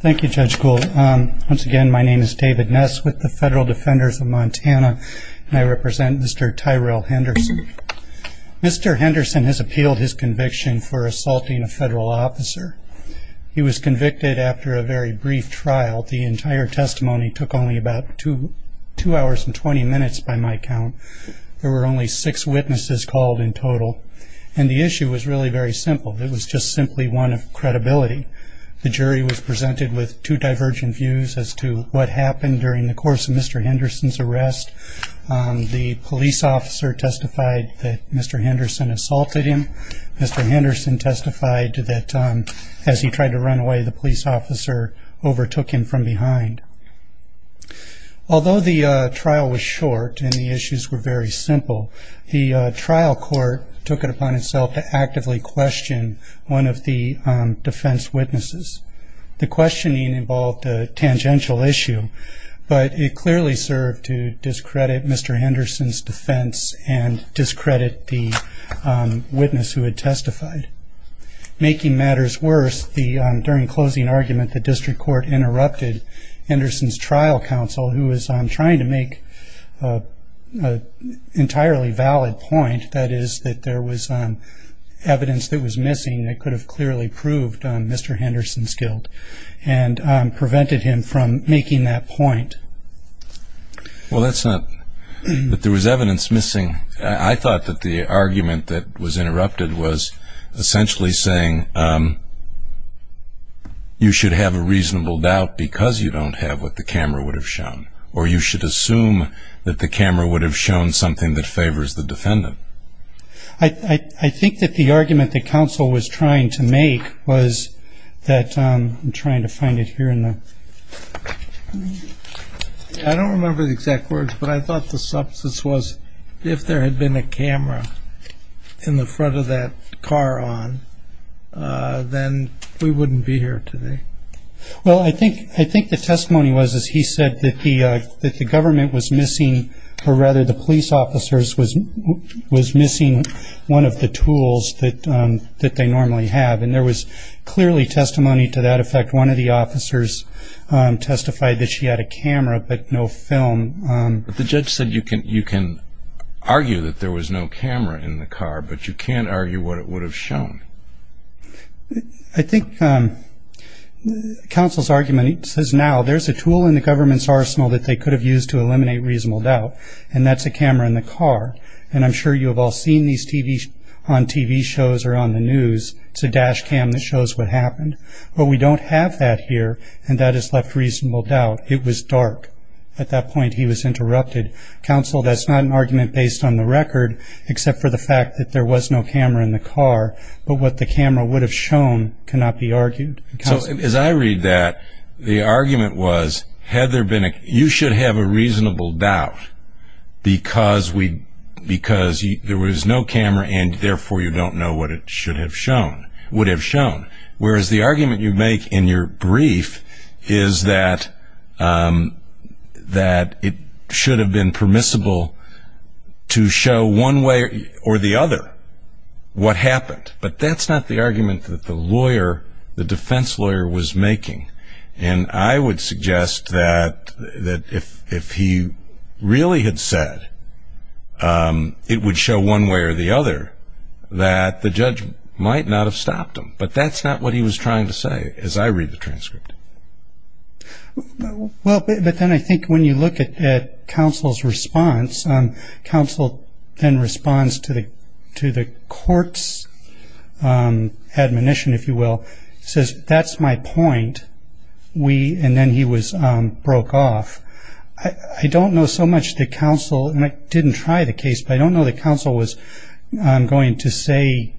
Thank you, Judge Gould. Once again, my name is David Ness with the Federal Defenders of Montana, and I represent Mr. Tyrell Henderson. Mr. Henderson has appealed his conviction for assaulting a federal officer. He was convicted after a very brief trial. The entire testimony took only about two hours and 20 minutes by my count. There were only six witnesses called in total, and the issue was really very simple. It was just simply one of credibility. The jury was presented with two divergent views as to what happened during the course of Mr. Henderson's arrest. The police officer testified that Mr. Henderson assaulted him. Mr. Henderson testified that as he tried to run away, the police officer overtook him from behind. Although the trial was short and the issues were very simple, the trial court took it upon itself to actively question one of the defense witnesses. The questioning involved a tangential issue, but it clearly served to discredit Mr. Henderson's defense and discredit the witness who had testified. Making matters worse, during closing argument, the district court interrupted Henderson's trial counsel, who was trying to make an entirely valid point, that is, that there was evidence that was missing that could have clearly proved Mr. Henderson's guilt, and prevented him from making that point. Well, that's not – that there was evidence missing – I thought that the argument that was interrupted was essentially saying you should have a reasonable doubt because you don't have what the camera would have shown, or you should assume that the camera would have shown something that favors the defendant. I think that the argument that counsel was trying to make was that – I'm trying to find it here in the – I don't remember the exact words, but I thought the substance was if there had been a camera in the front of that car on, then we wouldn't be here today. Well, I think the testimony was that he said that the government was missing – or rather the police officers was missing one of the tools that they normally have, and there was clearly testimony to that effect. One of the officers testified that she had a camera, but no film. But the judge said you can argue that there was no camera in the car, but you can't argue what it would have shown. I think counsel's argument says now there's a tool in the government's arsenal that they could have used to eliminate reasonable doubt, and that's a camera in the car. And I'm sure you have all seen these on TV shows or on the news. It's a dash cam that shows what happened. But we don't have that here, and that has left reasonable doubt. It was dark. At that point, he was interrupted. Counsel, that's not an argument based on the record, except for the fact that there was no camera in the car. But what the camera would have shown cannot be argued. So as I read that, the argument was you should have a reasonable doubt because there was no camera, and therefore you don't know what it would have shown. Whereas the argument you make in your brief is that it should have been permissible to show one way or the other what happened. But that's not the argument that the lawyer, the defense lawyer, was making. And I would suggest that if he really had said it would show one way or the other, that the judge might not have stopped him. But that's not what he was trying to say, as I read the transcript. Well, but then I think when you look at counsel's response, counsel then responds to the court's admonition, if you will. He says, that's my point. And then he broke off. I don't know so much that counsel, and I didn't try the case, but I don't know that counsel was going to say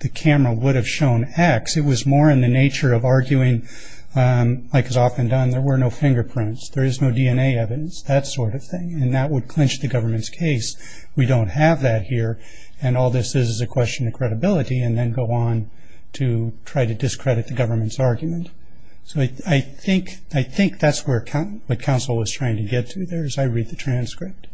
the camera would have shown X. It was more in the nature of arguing, like is often done, there were no fingerprints. There is no DNA evidence, that sort of thing, and that would clinch the government's case. We don't have that here, and all this is is a question of credibility, and then go on to try to discredit the government's argument. So I think that's what counsel was trying to get to there, as I read the transcript.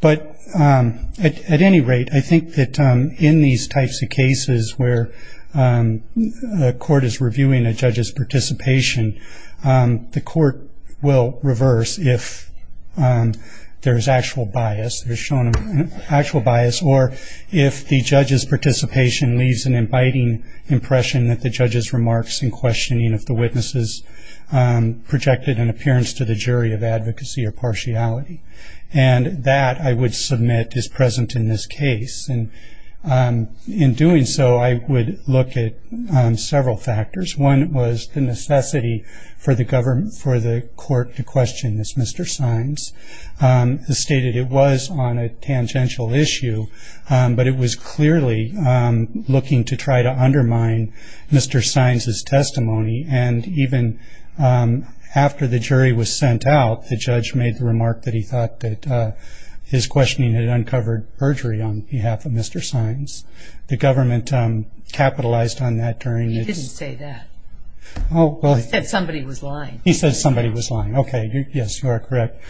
But at any rate, I think that in these types of cases where a court is reviewing a judge's participation, the court will reverse if there is actual bias, there's shown actual bias, or if the judge's participation leaves an inviting impression that the judge's remarks in questioning if the witness has projected an appearance to the jury of advocacy or partiality. And that, I would submit, is present in this case. And in doing so, I would look at several factors. One was the necessity for the court to question this. Mr. Sines stated it was on a tangential issue, but it was clearly looking to try to undermine Mr. Sines' testimony. And even after the jury was sent out, the judge made the remark that he thought that his questioning had uncovered perjury on behalf of Mr. Sines. The government capitalized on that during its- He didn't say that. Oh, well- He said somebody was lying. He said somebody was lying. Okay, yes, you are correct.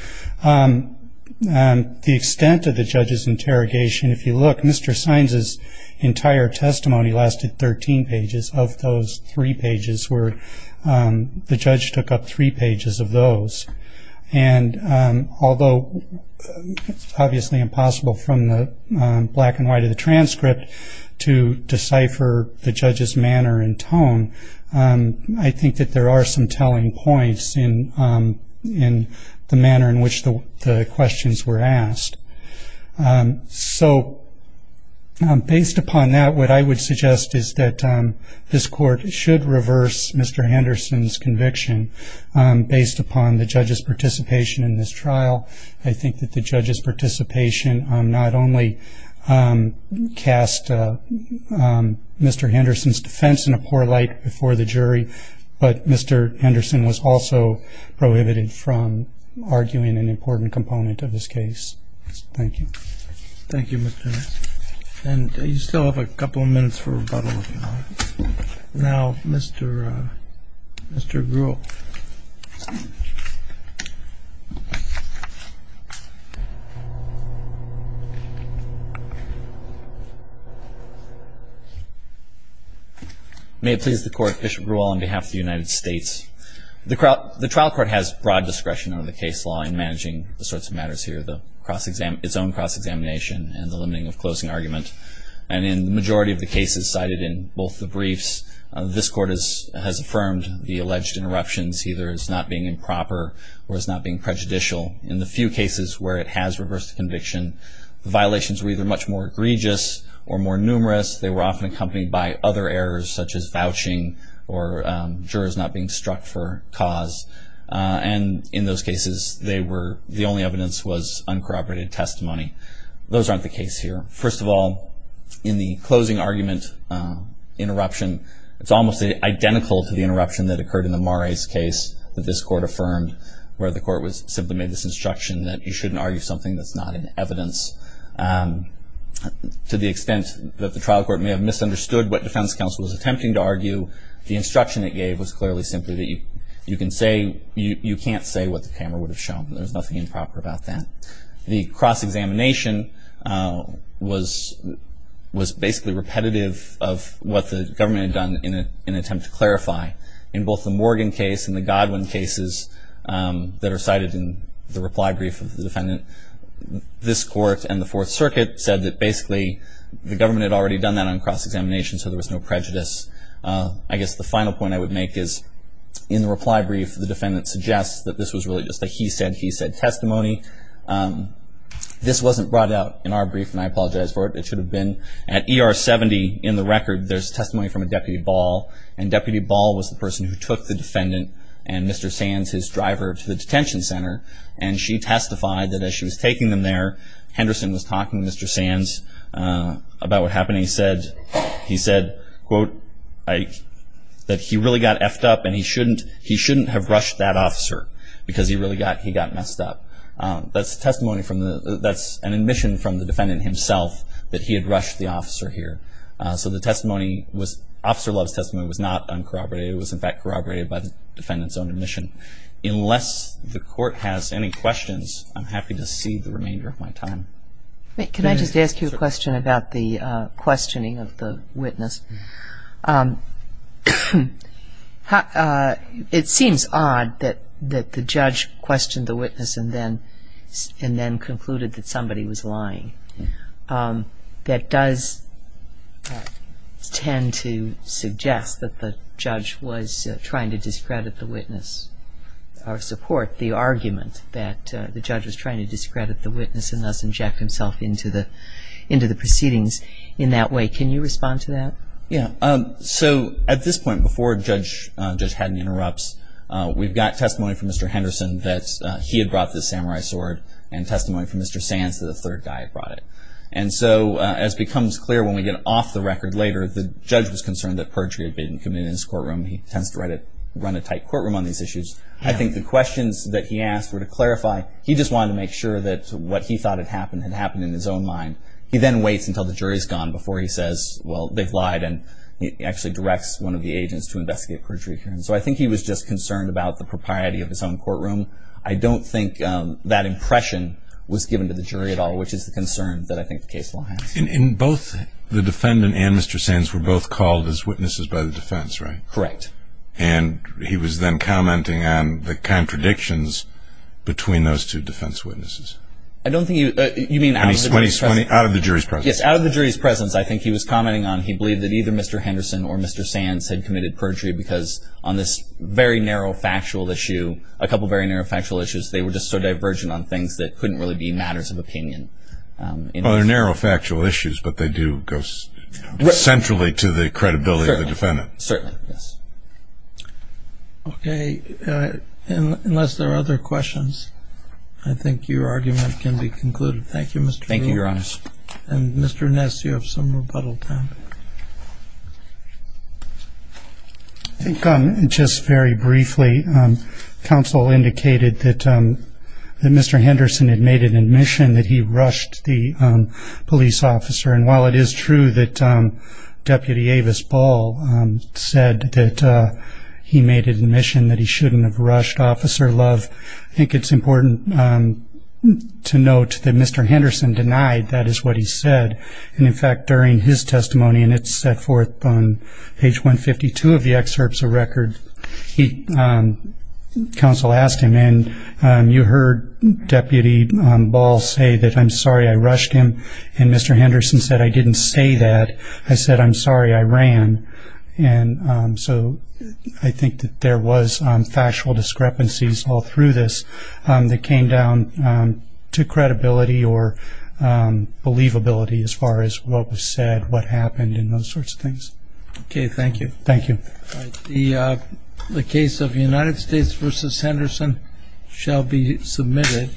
The extent of the judge's interrogation, if you look, Mr. Sines' entire testimony lasted 13 pages. Of those three pages were-the judge took up three pages of those. And although it's obviously impossible from the black and white of the transcript to decipher the judge's manner and tone, I think that there are some telling points in the manner in which the questions were asked. So based upon that, what I would suggest is that this court should reverse Mr. Henderson's conviction based upon the judge's participation in this trial. I think that the judge's participation not only cast Mr. Henderson's defense in a poor light before the jury, but Mr. Henderson was also prohibited from arguing an important component of this case. Thank you. Thank you, Mr. Sines. And you still have a couple of minutes for rebuttal. Now, Mr. Grewal. May it please the Court, Bishop Grewal, on behalf of the United States. The trial court has broad discretion under the case law in managing the sorts of matters here, its own cross-examination and the limiting of closing argument. And in the majority of the cases cited in both the briefs, this court has affirmed the alleged interruptions either as not being improper or as not being prejudicial. In the few cases where it has reversed the conviction, the violations were either much more egregious or more numerous. They were often accompanied by other errors, such as vouching or jurors not being struck for cause. And in those cases, the only evidence was uncorroborated testimony. Those aren't the case here. First of all, in the closing argument interruption, it's almost identical to the interruption that occurred in the Mares case that this court affirmed, where the court simply made this instruction that you shouldn't argue something that's not in evidence. To the extent that the trial court may have misunderstood what defense counsel was attempting to argue, the instruction it gave was clearly simply that you can't say what the camera would have shown. There's nothing improper about that. The cross-examination was basically repetitive of what the government had done in an attempt to clarify. In both the Morgan case and the Godwin cases that are cited in the reply brief of the defendant, this court and the Fourth Circuit said that basically the government had already done that on cross-examination, so there was no prejudice. I guess the final point I would make is in the reply brief, the defendant suggests that this was really just a he said, he said testimony. This wasn't brought out in our brief, and I apologize for it. It should have been. At ER 70 in the record, there's testimony from a Deputy Ball, and Deputy Ball was the person who took the defendant and Mr. Sands, his driver, to the detention center, and she testified that as she was taking them there, Henderson was talking to Mr. Sands about what happened. He said, quote, that he really got effed up, and he shouldn't have rushed that officer because he really got messed up. That's an admission from the defendant himself that he had rushed the officer here. So Officer Love's testimony was not uncorroborated. It was, in fact, corroborated by the defendant's own admission. Unless the court has any questions, I'm happy to cede the remainder of my time. Can I just ask you a question about the questioning of the witness? It seems odd that the judge questioned the witness and then concluded that somebody was lying. That does tend to suggest that the judge was trying to discredit the witness or support the argument that the judge was trying to discredit the witness and thus inject himself into the proceedings in that way. Can you respond to that? Yeah. So at this point, before Judge Haddon interrupts, we've got testimony from Mr. Henderson that he had brought the samurai sword and testimony from Mr. Sands that a third guy had brought it. And so as becomes clear when we get off the record later, the judge was concerned that perjury had been committed in his courtroom. He tends to run a tight courtroom on these issues. I think the questions that he asked were to clarify. He just wanted to make sure that what he thought had happened had happened in his own mind. He then waits until the jury's gone before he says, well, they've lied, and he actually directs one of the agents to investigate perjury here. And so I think he was just concerned about the propriety of his own courtroom. I don't think that impression was given to the jury at all, which is the concern that I think the case will have. And both the defendant and Mr. Sands were both called as witnesses by the defense, right? Correct. And he was then commenting on the contradictions between those two defense witnesses. You mean out of the jury's presence? Out of the jury's presence. Yes, out of the jury's presence. I think he was commenting on he believed that either Mr. Henderson or Mr. Sands had committed perjury because on this very narrow factual issue, a couple very narrow factual issues, they were just so divergent on things that couldn't really be matters of opinion. Well, they're narrow factual issues, but they do go centrally to the credibility of the defendant. Certainly. Yes. Okay. Unless there are other questions, I think your argument can be concluded. Thank you, Mr. Rule. Thank you, Your Honor. And Mr. Ness, you have some rebuttal time. I think just very briefly, counsel indicated that Mr. Henderson had made an admission that he rushed the police officer. And while it is true that Deputy Avis Ball said that he made an admission that he shouldn't have rushed Officer Love, I think it's important to note that Mr. Henderson denied that is what he said. And, in fact, during his testimony, and it's set forth on page 152 of the excerpts of record, counsel asked him, and you heard Deputy Ball say that I'm sorry I rushed him, and Mr. Henderson said I didn't say that, I said I'm sorry I ran. And so I think that there was factual discrepancies all through this that came down to credibility or believability as far as what was said, what happened, and those sorts of things. Okay, thank you. Thank you. The case of United States v. Henderson shall be submitted.